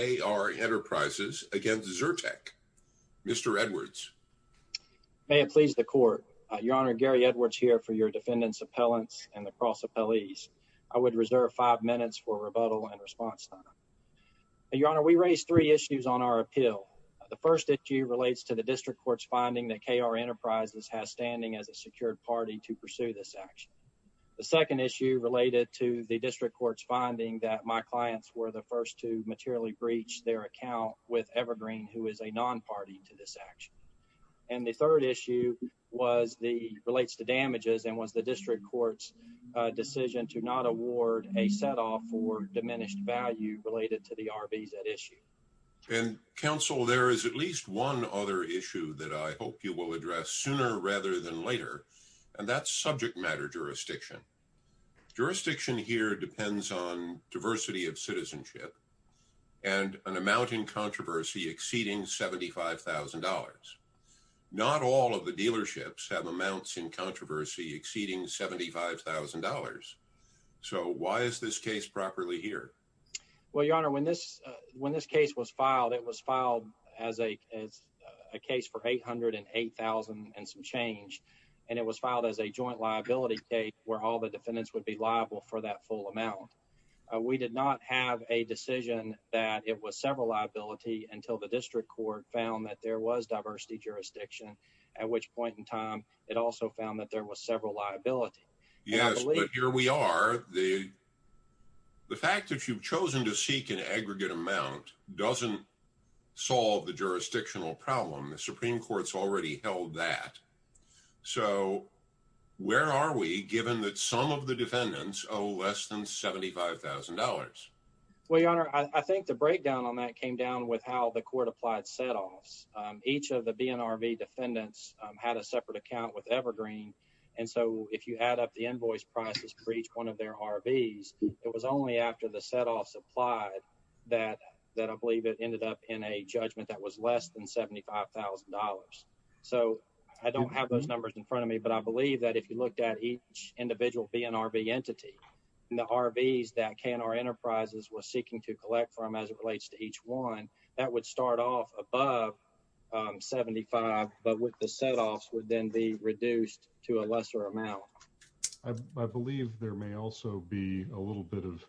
v. Zerteck, Mr. Edwards. May it please the court. Your Honor, Gary Edwards here for your defendant's appellants and the cross appellees. I would reserve five minutes for rebuttal and response time. Your Honor, we raised three issues on our appeal. The first issue relates to the district court's finding that KR Enterprises has standing as a secured party to pursue this action. The second issue related to the district court's finding that my clients were the first to materially breach their account with Evergreen, who is a non-party to this action. And the third issue relates to damages and was the district court's decision to not award a set-off for diminished value related to the RVs at issue. Counsel, there is at least one other issue that I hope you will address sooner rather than later, and that's and an amount in controversy exceeding $75,000. Not all of the dealerships have amounts in controversy exceeding $75,000. So why is this case properly here? Well, Your Honor, when this when this case was filed, it was filed as a as a case for $808,000 and some change. And it was filed as a joint liability case where all the defendants would be liable for that full amount. We did not have a decision that it was several liability until the district court found that there was diversity jurisdiction, at which point in time it also found that there was several liability. Yes, but here we are. The the fact that you've chosen to seek an aggregate amount doesn't solve the jurisdictional problem. The Supreme Court's already held that. So where are we given that some of the defendants owe less than $75,000? Well, Your Honor, I think the breakdown on that came down with how the court applied set-offs. Each of the BNRV defendants had a separate account with Evergreen. And so if you add up the invoice prices for each one of their RVs, it was only after the set-offs applied that that I believe it ended up in a judgment that was less than $75,000. So I don't have those numbers in front of me, but I believe that if you looked at each individual BNRV entity and the RVs that K&R Enterprises was seeking to collect from as it relates to each one, that would start off above $75,000, but with the set-offs would then be reduced to a lesser amount. I believe there may also be a little bit of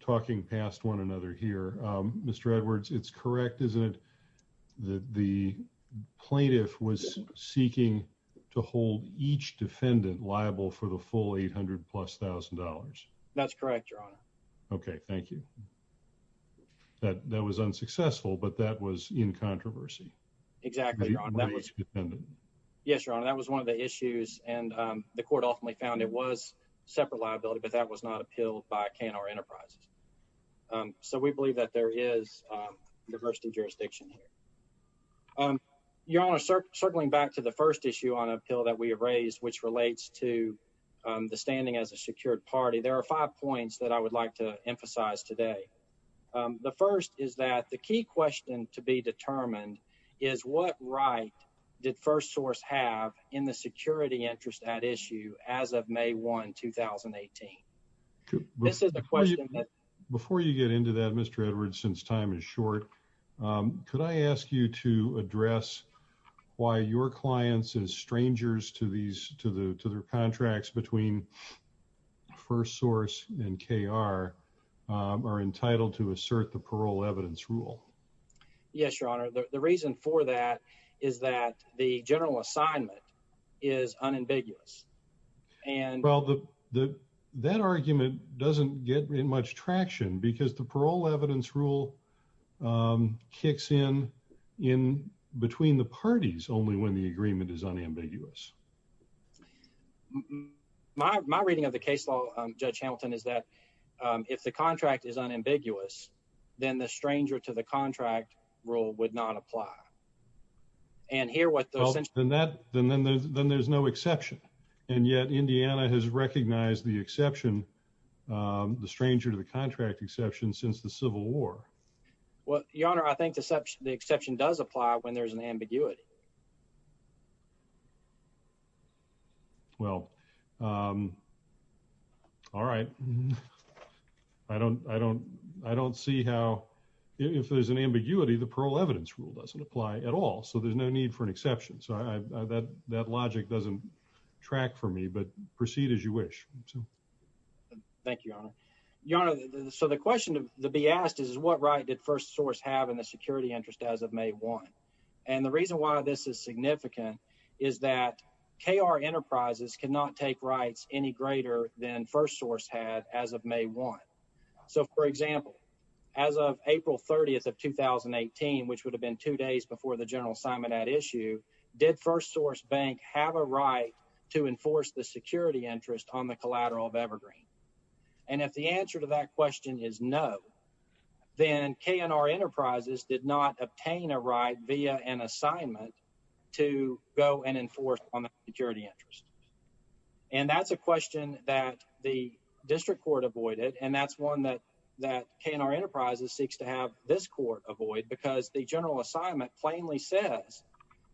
talking past one another here. Mr. Edwards, it's correct, isn't it? The plaintiff was seeking to hold each defendant liable for the full $800,000 plus. That's correct, Your Honor. Okay, thank you. That was unsuccessful, but that was in controversy. Exactly. Yes, Your Honor, that was one of the issues, and the court ultimately found it was separate liability, but that was not appealed by K&R Enterprises. So we believe that there is diversity of jurisdiction here. Your Honor, circling back to the first issue on appeal that we have raised, which relates to the standing as a secured party, there are five points that I would like to emphasize today. The first is that the key question to be determined is what right did FirstSource have in the security interest at issue as of May 1, 2018? This is the question that... Before you get into that, Mr. Edwards, since time is short, could I ask you to address why your clients as strangers to their contracts between FirstSource and K&R are entitled to assert the parole evidence rule? Yes, Your Honor. The reason for that is that the general assignment is unambiguous. Well, that argument doesn't get in much traction because the parole evidence rule kicks in between the parties only when the agreement is unambiguous. My reading of the case law, Judge Hamilton, is that if the contract is unambiguous, then there's no exception. And yet, Indiana has recognized the exception, the stranger to the contract exception, since the Civil War. Well, Your Honor, I think the exception does apply when there's an ambiguity. Well, all right. I don't see how... If there's an ambiguity, the parole evidence rule doesn't apply at all, so there's no need for an exception. So that logic doesn't track for me, but proceed as you wish. Thank you, Your Honor. Your Honor, so the question to be asked is what right did FirstSource have in the security interest as of May 1? And the reason why this is significant is that K&R Enterprises cannot take rights any greater than FirstSource had as of May 1. So, for example, as of April 30th of 2018, which would have been two days before the general assignment at issue, did FirstSource Bank have a right to enforce the security interest on the collateral of Evergreen? And if the answer to that question is no, then K&R Enterprises did not obtain a right via an assignment to go and enforce on the security interest. And that's a question that the district court avoided, and that's one that K&R Enterprises seeks to have this court avoid, because the general assignment plainly says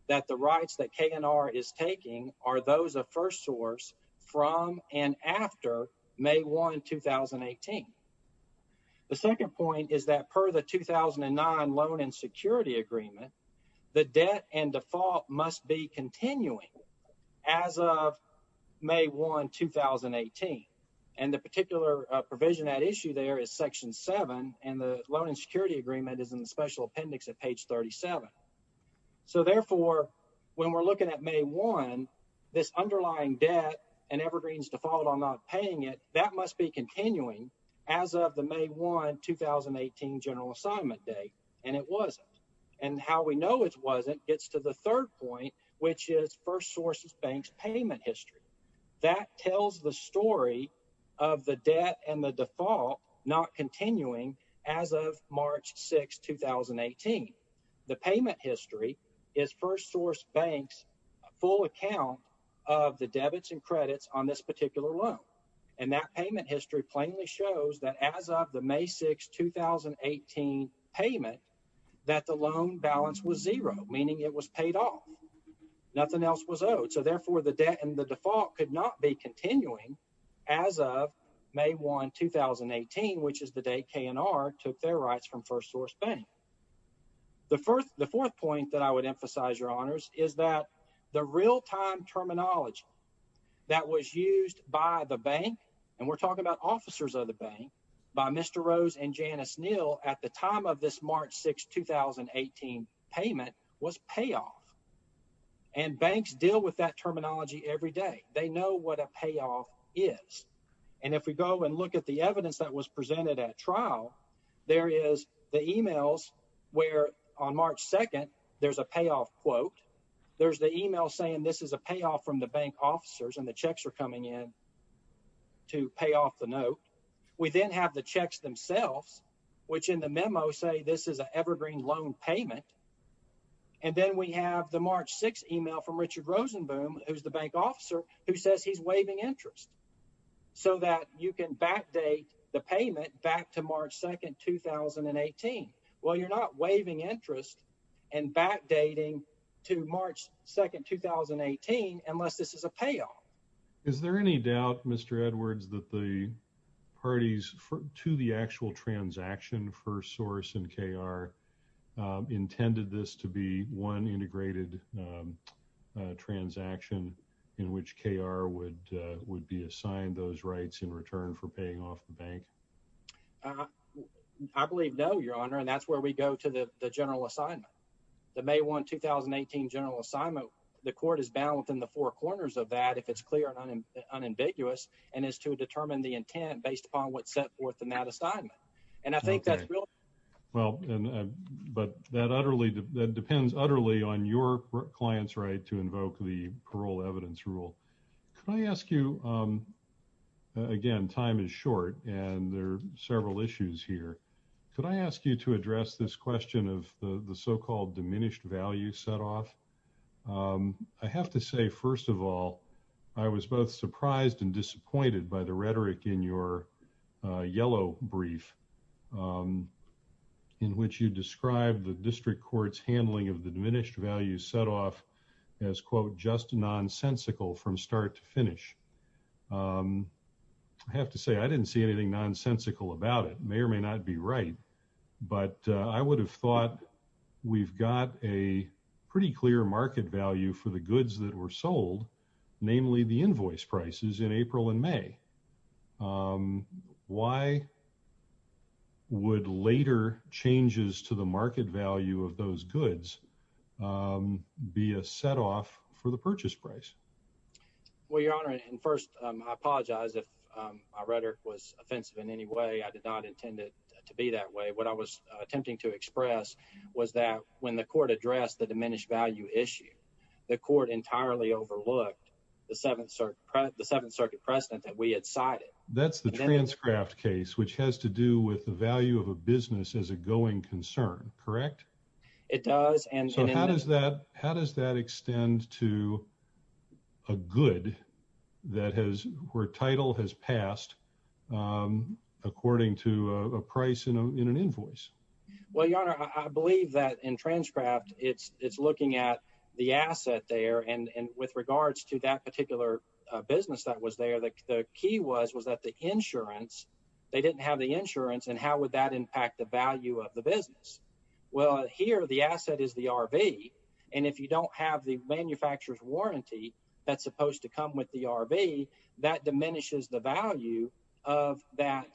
that the rights that K&R is taking are those of FirstSource from and after May 1, 2018. The second point is that per the 2009 loan and security agreement, the debt and default must be continuing as of May 1, 2018. And the particular provision at issue there is Section 7, and the loan and security agreement is in the special appendix at page 37. So, therefore, when we're looking at May 1, this underlying debt and Evergreen's default on not paying it, that must be continuing as of the May 1, 2018 general assignment date, and it wasn't. And how we know it wasn't gets to the third point, which is FirstSource Bank's payment history. That tells the story of the debt and the default not continuing as of March 6, 2018. The payment history is FirstSource Bank's full account of the debits and credits on this particular loan. And that payment history plainly shows that as of the May 6, 2018 payment, that the loan balance was zero, meaning it was paid off. Nothing else was owed. So, therefore, the debt and the default could not be continuing as of May 1, 2018, which is the day K&R took their rights from FirstSource Bank. The fourth point that I would emphasize, Your Honors, is that the real-time terminology that was used by the bank, and we're talking about officers of the bank, by Mr. Rose and Janice Neal at the time of this March 6, 2018 payment was payoff. And banks deal with that terminology every day. They know what a payoff is. And if we go and look at the evidence that was presented at trial, there is the emails where on March 2, there's a payoff quote. There's the email saying this is a payoff from the bank officers, and the checks are coming in to pay off the note. We then have the checks themselves, which in the memo say this is an loan payment. And then we have the March 6 email from Richard Rosenboom, who's the bank officer, who says he's waiving interest so that you can backdate the payment back to March 2, 2018. Well, you're not waiving interest and backdating to March 2, 2018 unless this is a payoff. Is there any doubt, Mr. Edwards, that the parties to the actual transaction first source in KR intended this to be one integrated transaction in which KR would be assigned those rights in return for paying off the bank? I believe no, Your Honor, and that's where we go to the general assignment. The May 1, 2018 general assignment, the court is bound within the four corners of that if it's clear and unambiguous, and is to determine the intent based upon what's set forth in that assignment. And I think that's real. Well, but that depends utterly on your client's right to invoke the parole evidence rule. Could I ask you, again, time is short, and there are several issues here. Could I ask you to address this question of the so-called diminished value set-off? I have to say, first of all, I was both surprised and disappointed by the rhetoric in your yellow brief in which you described the district court's handling of the diminished value set-off as, quote, just nonsensical from start to finish. I have to say, I didn't see anything nonsensical about it. May or may not be right, but I would have thought we've got a pretty clear market value for the goods that were sold, namely the invoice prices in April and May. Why would later changes to the market value of those goods be a set-off for the purchase price? Well, Your Honor, and first, I apologize if my rhetoric was offensive in any way. I did not intend it to be that way. What I was attempting to express was that when the court addressed the diminished value issue, the court entirely overlooked the Seventh Circuit precedent that we had cited. That's the Transcraft case, which has to do with the value of a business as a going concern, correct? It does. So how does that extend to a good where title has passed according to a price in an invoice? Well, Your Honor, I believe that in Transcraft, it's looking at the asset there, and with regards to that particular business that was there, the key was that they didn't have the insurance, and how would that impact the value of the business? Well, here, the asset is the RV, and if you don't have the manufacturer's warranty that's supposed to come with the RV, that diminishes the value of that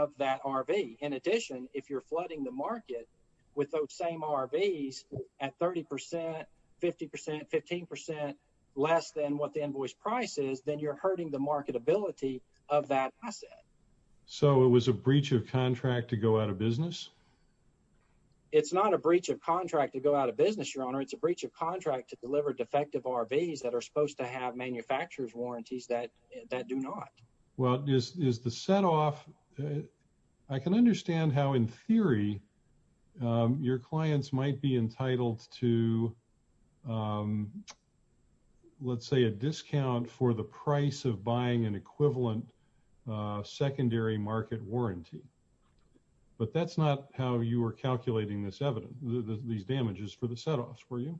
RV. In addition, if you're flooding the market with those same RVs at 30 percent, 50 percent, 15 percent less than what the invoice price is, then you're hurting the marketability of that asset. So it was a breach of contract to go out of business? It's not a breach of contract to go out of business, Your Honor. It's a breach of contract to deliver defective RVs that are supposed to have manufacturer's warranties that do not. Well, is the set off... I can understand how, in theory, your clients might be entitled to, let's say, a discount for the price of buying an equivalent secondary market warranty, but that's not how you were calculating this evidence, these damages for the setoffs, were you?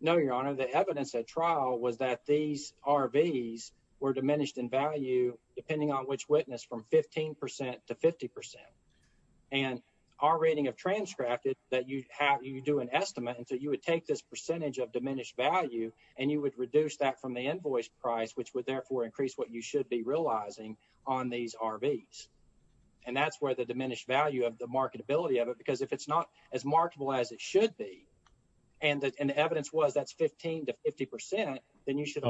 No, Your Honor. The evidence at trial was that these RVs were diminished in value depending on which witness, from 15 percent to 50 percent, and our rating of Transcraft is that you have... you do an estimate, and so you would take this percentage of diminished value, and you would reduce that from the invoice price, which would therefore increase what you should be realizing on these RVs. And that's where the diminished value of the marketability of it, because if it's not as marketable as it should be, and the evidence was that's 15 to 50 percent, then you should...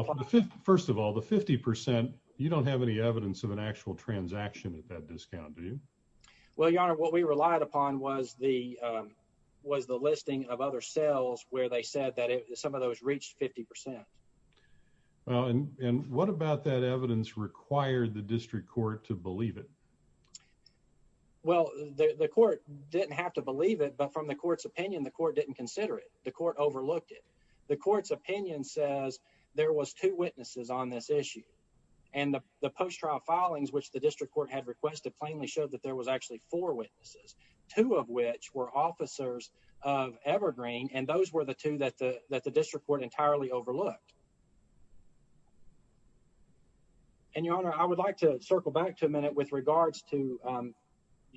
First of all, the 50 percent, you don't have any evidence of an actual transaction at that of other sales where they said that some of those reached 50 percent. Well, and what about that evidence required the district court to believe it? Well, the court didn't have to believe it, but from the court's opinion, the court didn't consider it. The court overlooked it. The court's opinion says there was two witnesses on this issue, and the post-trial filings, which the district court had requested, plainly showed that there was actually four witnesses, two of which were officers of Evergreen, and those were the two that the district court entirely overlooked. And Your Honor, I would like to circle back to a minute with regards to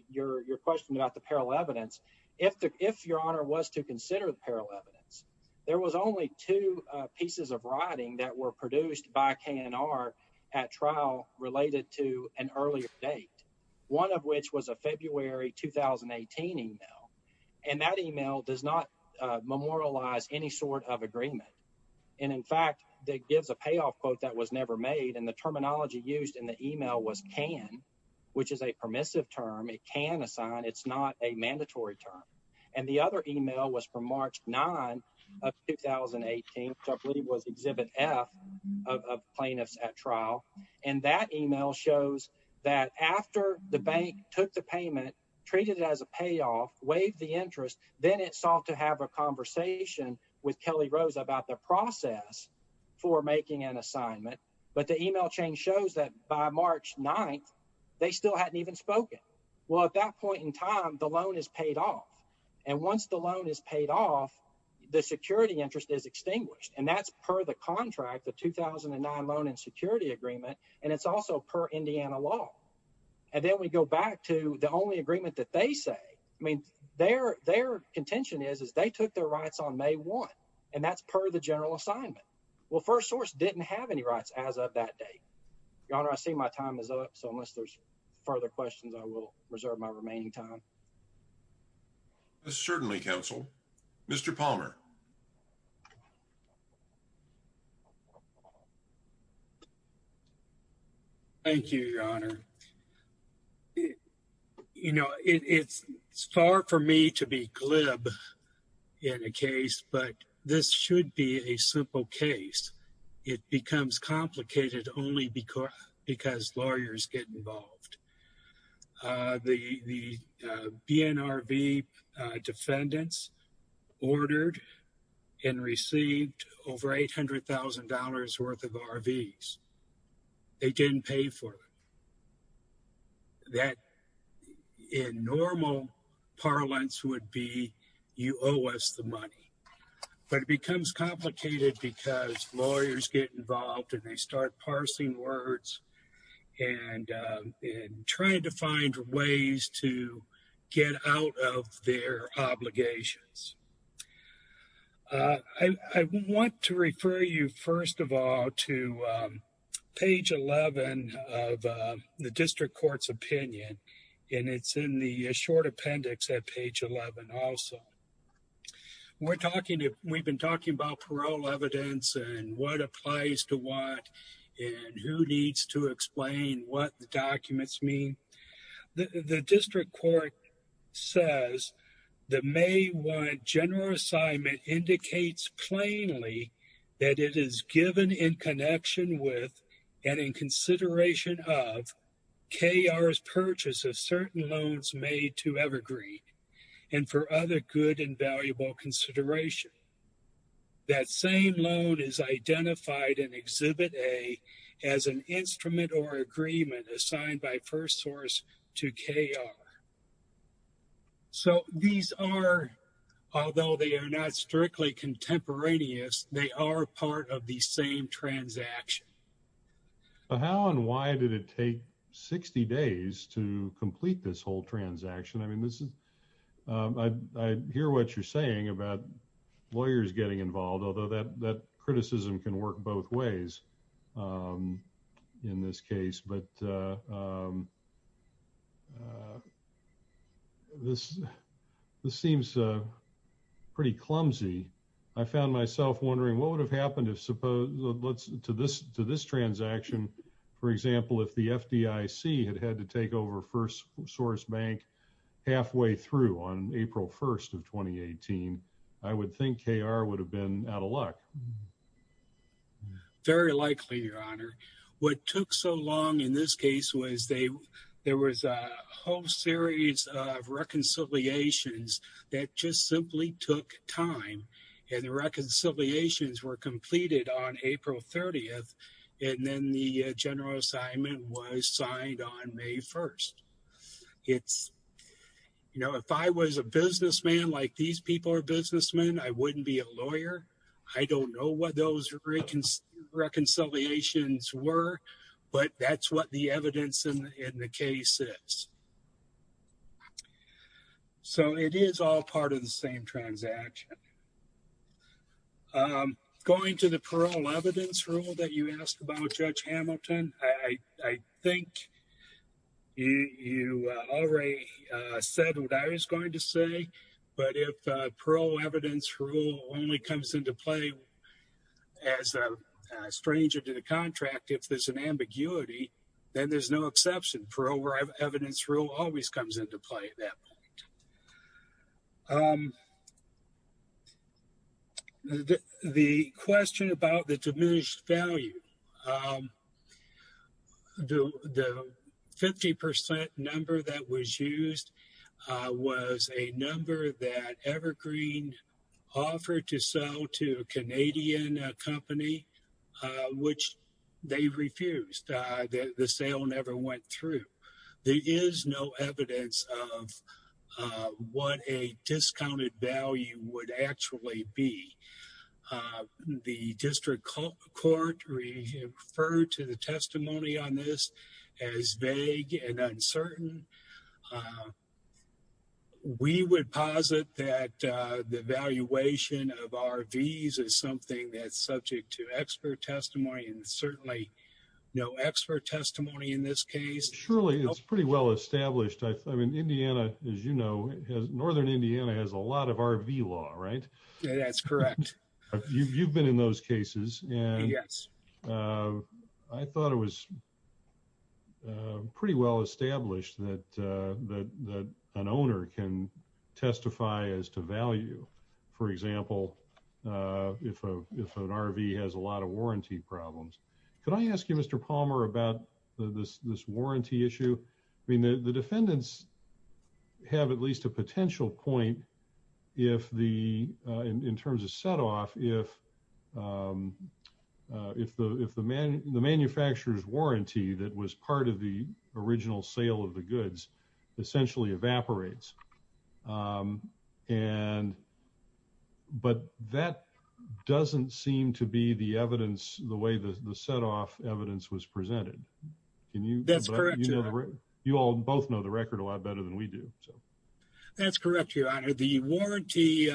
your question about the parallel evidence. If Your Honor was to consider the parallel evidence, there was only two pieces of writing that were produced by K&R at trial related to an earlier date, one of which was a February 2018 email, and that email does not memorialize any sort of agreement. And in fact, that gives a payoff quote that was never made, and the terminology used in the email was can, which is a permissive term. It can assign. It's not a mandatory term. And the other email was from March 9 of 2018, which I believe was Exhibit F of plaintiffs at trial, and that email shows that after the bank took the payment, treated it as a payoff, waived the interest, then it sought to have a conversation with Kelly Rose about the process for making an assignment, but the email chain shows that by March 9, they still hadn't even spoken. Well, at that point in time, the loan is paid off, and once the loan is paid off, the security interest is extinguished, and that's per the contract, the 2009 Loan and Security Agreement, and it's also per Indiana law. And then we go back to the only agreement that they say. I mean, their contention is they took their rights on May 1, and that's per the general assignment. Well, First Source didn't have any rights as of that date. Your Honor, I see my time is up, so unless there's further questions, I will go ahead. Thank you, Your Honor. You know, it's far for me to be glib in a case, but this should be a simple case. It becomes complicated only because lawyers get involved. The BNRV defendants ordered and received over $800,000 worth of RVs. They didn't pay for it. That, in normal parlance, would be you owe us the money, but it becomes complicated because lawyers get involved, and they start parsing words and trying to find ways to get out of their obligations. I want to refer you, first of all, to page 11 of the District Court's opinion, and it's in the short appendix at page 11 also. We've been talking about parole evidence and what applies to what and who needs to explain what the documents mean. The District Court says the May 1 general assignment indicates plainly that it is given in connection with and in consideration of KR's purchase of certain loans made to Evergreen and for other good and valuable consideration. That same loan is identified in Exhibit A as an instrument or agreement assigned by first source to KR. So these are, although they are not strictly contemporaneous, they are part of the same transaction. How and why did it take 60 days to complete this whole transaction? I mean, I hear what you're saying about lawyers getting involved, although that criticism can work both ways in this case. But this seems pretty clumsy. I found myself wondering what would have happened to this transaction, for example, if the FDIC had had to take over first source bank halfway through on April 1st of 2018. I would think KR would have been out of luck. Very likely, Your Honor. What took so long in this case was there was a whole series of reconciliations that just simply took time. And the reconciliations were completed on April 30th and then the general assignment was signed on May 1st. If I was a businessman like these people are reconciliations were, but that's what the evidence in the case is. So it is all part of the same transaction. Going to the parole evidence rule that you asked about Judge Hamilton, I think you already said what I was going to say. But if parole evidence rule only comes into play as a stranger to the contract, if there's an ambiguity, then there's no exception. Parole evidence rule always comes into play at that point. The question about the diminished value, the 50 percent number that was used was a number that Canadian company, which they refused. The sale never went through. There is no evidence of what a discounted value would actually be. The district court referred to the testimony on this as vague and uncertain. We would posit that the valuation of RVs is something that's subject to expert testimony and certainly no expert testimony in this case. Surely it's pretty well established. I mean, Indiana, as you know, northern Indiana has a lot of RV law, right? That's correct. You've been in those cases, and I thought it was pretty well established that an owner can testify as to value, for example, if an RV has a lot of warranty problems. Could I ask you, Mr. Palmer, about this warranty issue? I mean, the defendants have at least a potential point in terms of set-off if the manufacturer's warranty that was part of the original sale of the goods essentially evaporates. But that doesn't seem to be the way the set-off evidence was presented. That's correct, Your Honor. You all both know the record a lot better than we do. That's correct, Your Honor. The warranty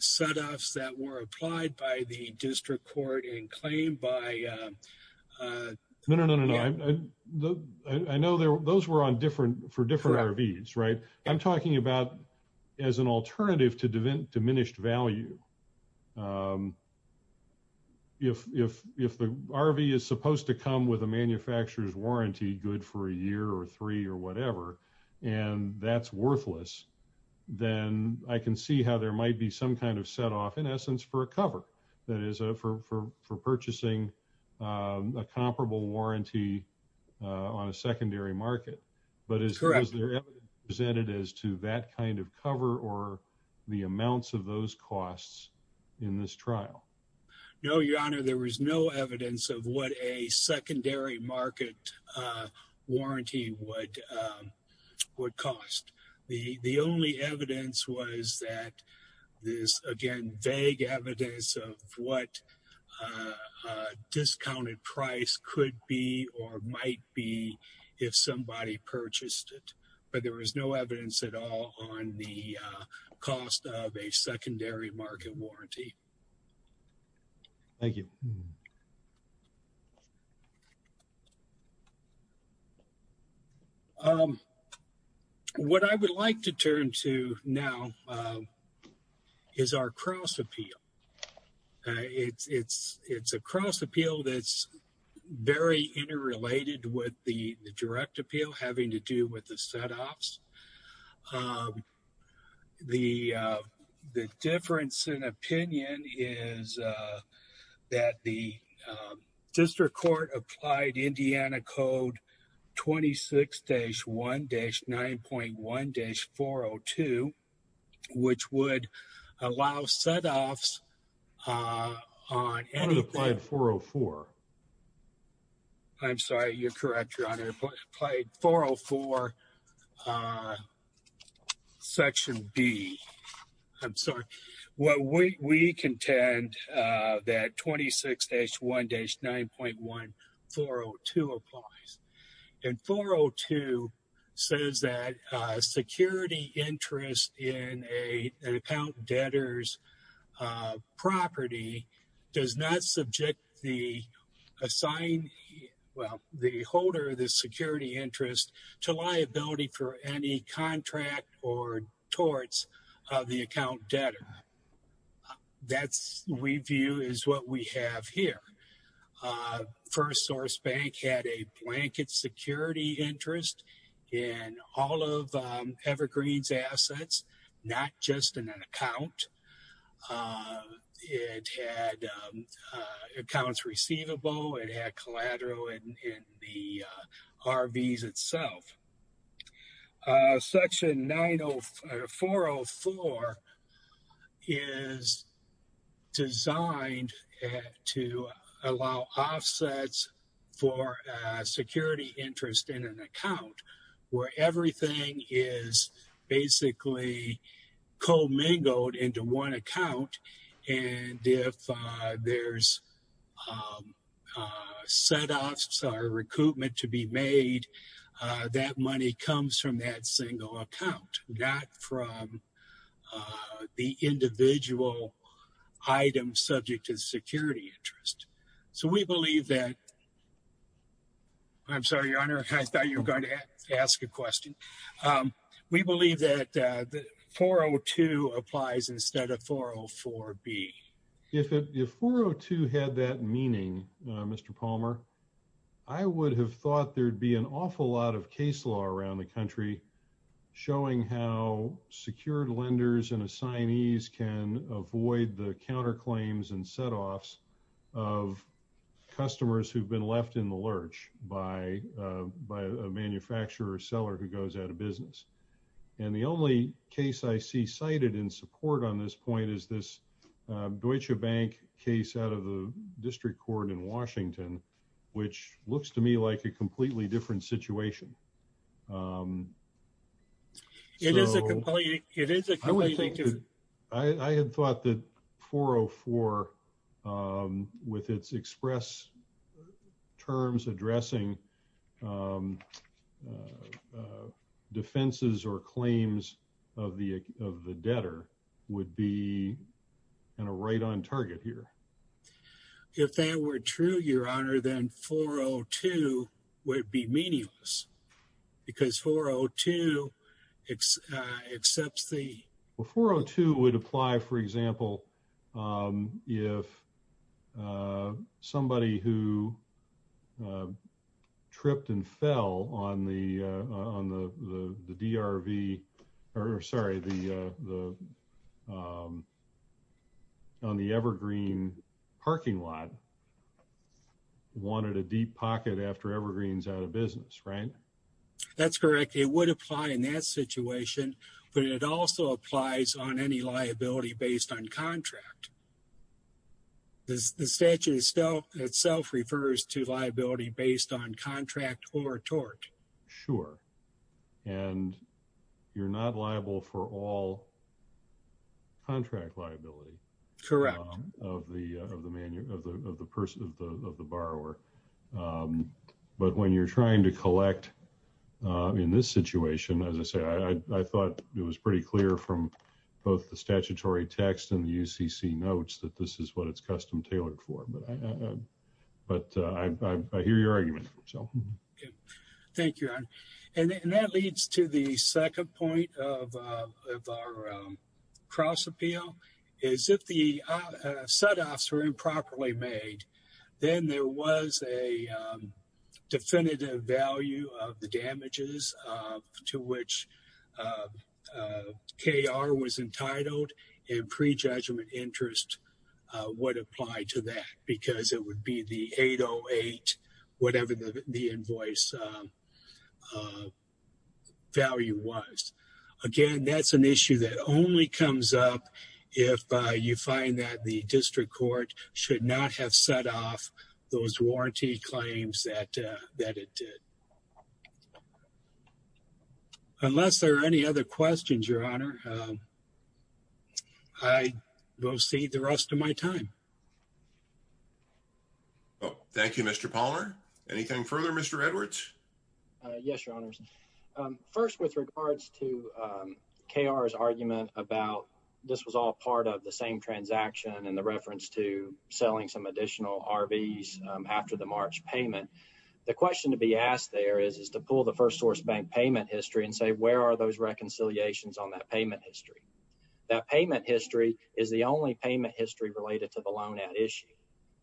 set-offs that were applied by the district court in claim by... No, no, no, no, no. I know those were for different RVs, right? I'm talking about as an alternative to diminished value. If the RV is supposed to come with a manufacturer's warranty good for a year or three or whatever, and that's worthless, then I can see how there might be some kind of set-off, in essence, for a cover, that is for purchasing a comparable warranty on a secondary market. But is there evidence presented as to that kind of cover or the amounts of those costs in this trial? No, Your Honor. There was no evidence of what a secondary market warranty would cost. The only evidence was that this, again, vague evidence of what a discounted price could be or might be if somebody purchased it. But there was no evidence at all on the cost of a secondary market warranty. Thank you. Hmm. What I would like to turn to now is our cross-appeal. It's a cross-appeal that's very interrelated with the direct appeal having to do with the set-offs. The difference in opinion is that the district court applied Indiana Code 26-1-9.1-402, which would allow set-offs on any... On Applied 404. I'm sorry. You're correct, Your Honor. Applied 404, Section B. I'm sorry. What we contend that 26-1-9.1-402 applies. And 402 says that security interest in an account debtor's property does not subject the holder of the security interest to liability for any contract or torts of the account debtor. That, we view, is what we have here. First Source Bank had a blanket security interest in all of Evergreen's assets, not just in an account. It had accounts receivable. It had collateral in the RVs itself. Section 404 is designed to allow offsets for security interest in an account where everything is basically co-mingled into one account. And if there's set-offs or recoupment to be made, that money comes from that single account, not from the individual item subject to the security interest. So we believe that... I'm sorry, Your Honor. I thought you were going to ask a question. We believe that 402 applies instead of 404B. If 402 had that meaning, Mr. Palmer, I would have thought there'd be an awful lot of case law around the country showing how secured lenders and assignees can avoid the counterclaims and set-offs of customers who've been left in the lurch by a manufacturer or seller who goes out of business. And the only case I see cited in support on this point is this Deutsche Bank case out of the District Court in Washington, which looks to me like a completely different situation. It is a completely different... I had thought that 404, with its express terms addressing defenses or claims of the debtor, would be kind of right on target here. If that were true, Your Honor, then 402 would be meaningless, because 402 accepts the... Well, 402 would apply, for example, if somebody who parking lot wanted a deep pocket after Evergreen's out of business, right? That's correct. It would apply in that situation, but it also applies on any liability based on contract. The statute itself refers to liability based on contract or tort. Sure. And you're not liable for all contract liability... Correct. ...of the borrower. But when you're trying to collect in this situation, as I say, I thought it was pretty clear from both the statutory text and the UCC notes that this is what it's custom tailored for. But I hear your argument, so... Okay. Thank you, Your Honor. And that leads to the second point of our cross appeal, is if the set-offs are improperly made, then there was a definitive value of the damages to which KR was entitled and pre-judgment interest would apply to that, because it would be the 808, whatever the invoice value was. Again, that's an issue that only comes up if you find that the district court should not have set off those warranty claims that it did. Unless there are any other questions, Your Honor, I will cede the rest of my time. Well, thank you, Mr. Palmer. Anything further, Mr. Edwards? Yes, Your Honors. First, with regards to KR's argument about this was all part of the same transaction and the reference to selling some additional RVs after the March payment, the question to be asked there is to pull the First Source Bank payment history and say, where are those reconciliations on that payment history? That payment history is the only payment related to the loan at issue,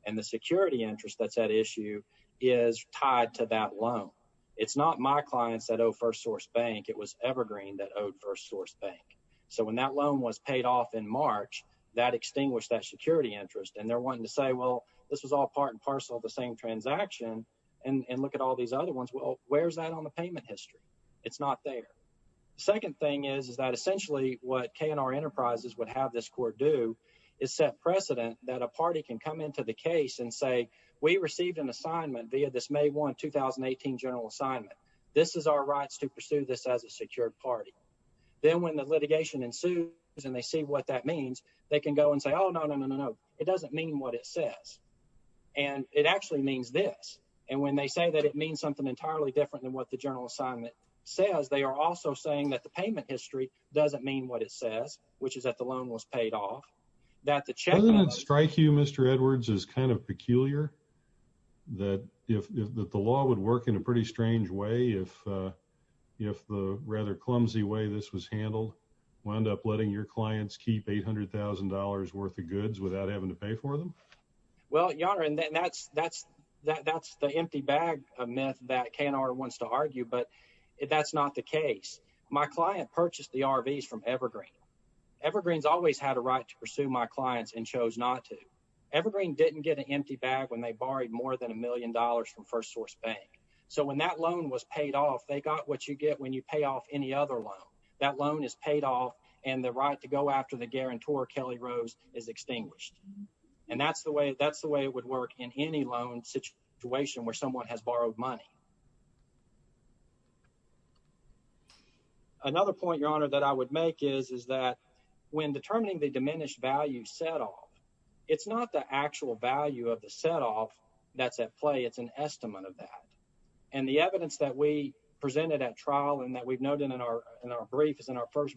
and the security interest that's at issue is tied to that loan. It's not my clients that owe First Source Bank. It was Evergreen that owed First Source Bank. So when that loan was paid off in March, that extinguished that security interest, and they're wanting to say, well, this was all part and parcel of the same transaction, and look at all these other ones. Well, where's that on the payment history? It's not there. Second thing is that essentially what K&R Enterprises would have this court do is set precedent that a party can come into the case and say, we received an assignment via this May 1, 2018 general assignment. This is our rights to pursue this as a secured party. Then when the litigation ensues, and they see what that means, they can go and say, oh, no, no, no, no, no. It doesn't mean what it says. And it actually means this. And when they say that it means something entirely different than what the general assignment says, they are also saying that the payment history doesn't mean what it says, which is that the loan was paid off. Doesn't it strike you, Mr. Edwards, as kind of peculiar that the law would work in a pretty strange way if the rather clumsy way this was handled wound up letting your clients keep $800,000 worth of goods without having to pay for them? Well, Your Honor, that's the empty bag myth that K&R wants to argue, but that's not the case. My client purchased the RVs from Evergreen. Evergreen's always had a right to pursue my clients and chose not to. Evergreen didn't get an empty bag when they borrowed more than a million dollars from First Source Bank. So when that loan was paid off, they got what you get when you pay off any other loan. That loan is paid off, and the right to go after the guarantor, Kelly Rose, is extinguished. And that's the way it would work in any loan situation where someone has borrowed money. Another point, Your Honor, that I would make is that when determining the diminished value set off, it's not the actual value of the set off that's at play. It's an estimate of that. And the evidence that we presented at trial and that we've noted in our brief is in our first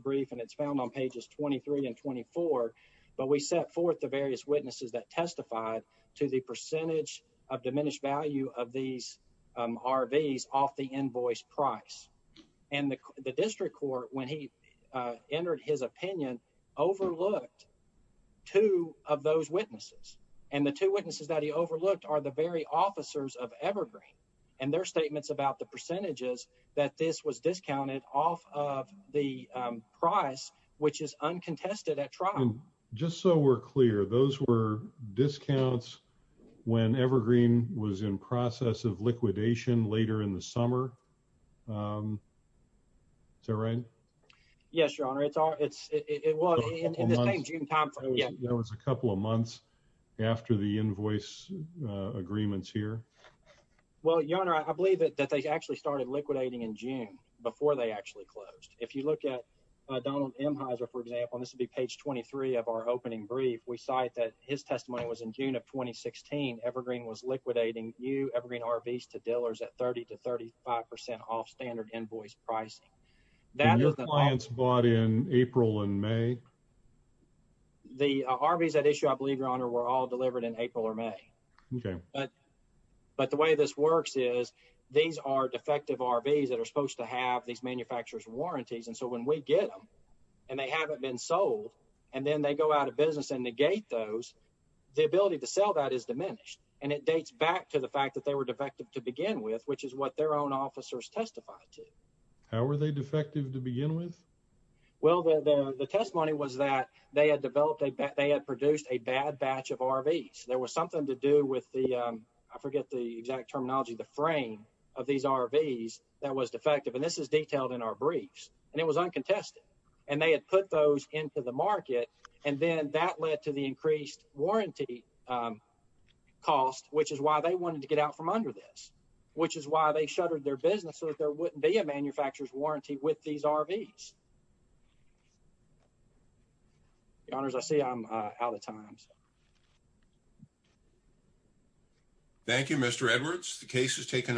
but we set forth the various witnesses that testified to the percentage of diminished value of these RVs off the invoice price. And the district court, when he entered his opinion, overlooked two of those witnesses. And the two witnesses that he overlooked are the very officers of Evergreen and their statements about the percentages that this was discounted off of the price, which is uncontested at trial. And just so we're clear, those were discounts when Evergreen was in process of liquidation later in the summer. Is that right? Yes, Your Honor. It was a couple of months after the invoice agreements here. Well, Your Honor, I believe that they actually started liquidating in June before they actually closed. If you look at Donald M. Heiser, for example, and this will be page 23 of our opening brief, we cite that his testimony was in June of 2016. Evergreen was liquidating new Evergreen RVs to dealers at 30 to 35% off standard invoice pricing. And your clients bought in April and May? The RVs at issue, I believe, Your Honor, were all delivered in April or May. Okay. But the way this works is these are defective RVs that are supposed to have these manufacturer's warranties. And so when we get them and they haven't been sold, and then they go out of business and negate those, the ability to sell that is diminished. And it dates back to the fact that they were defective to begin with, which is what their own officers testified to. How were they defective to begin with? Well, the testimony was that they had produced a bad batch of RVs. There was something to do with the, I forget the exact terminology, the frame of these RVs that was defective. And this is detailed in our briefs. And it was uncontested. And they had put those into the market. And then that led to the increased warranty cost, which is why they wanted to get out from under this, which is why they shuttered their business so that there wouldn't be a manufacturer's warranty with these RVs. Your Honors, I see I'm out of time. Thank you, Mr. Edwards. The case has taken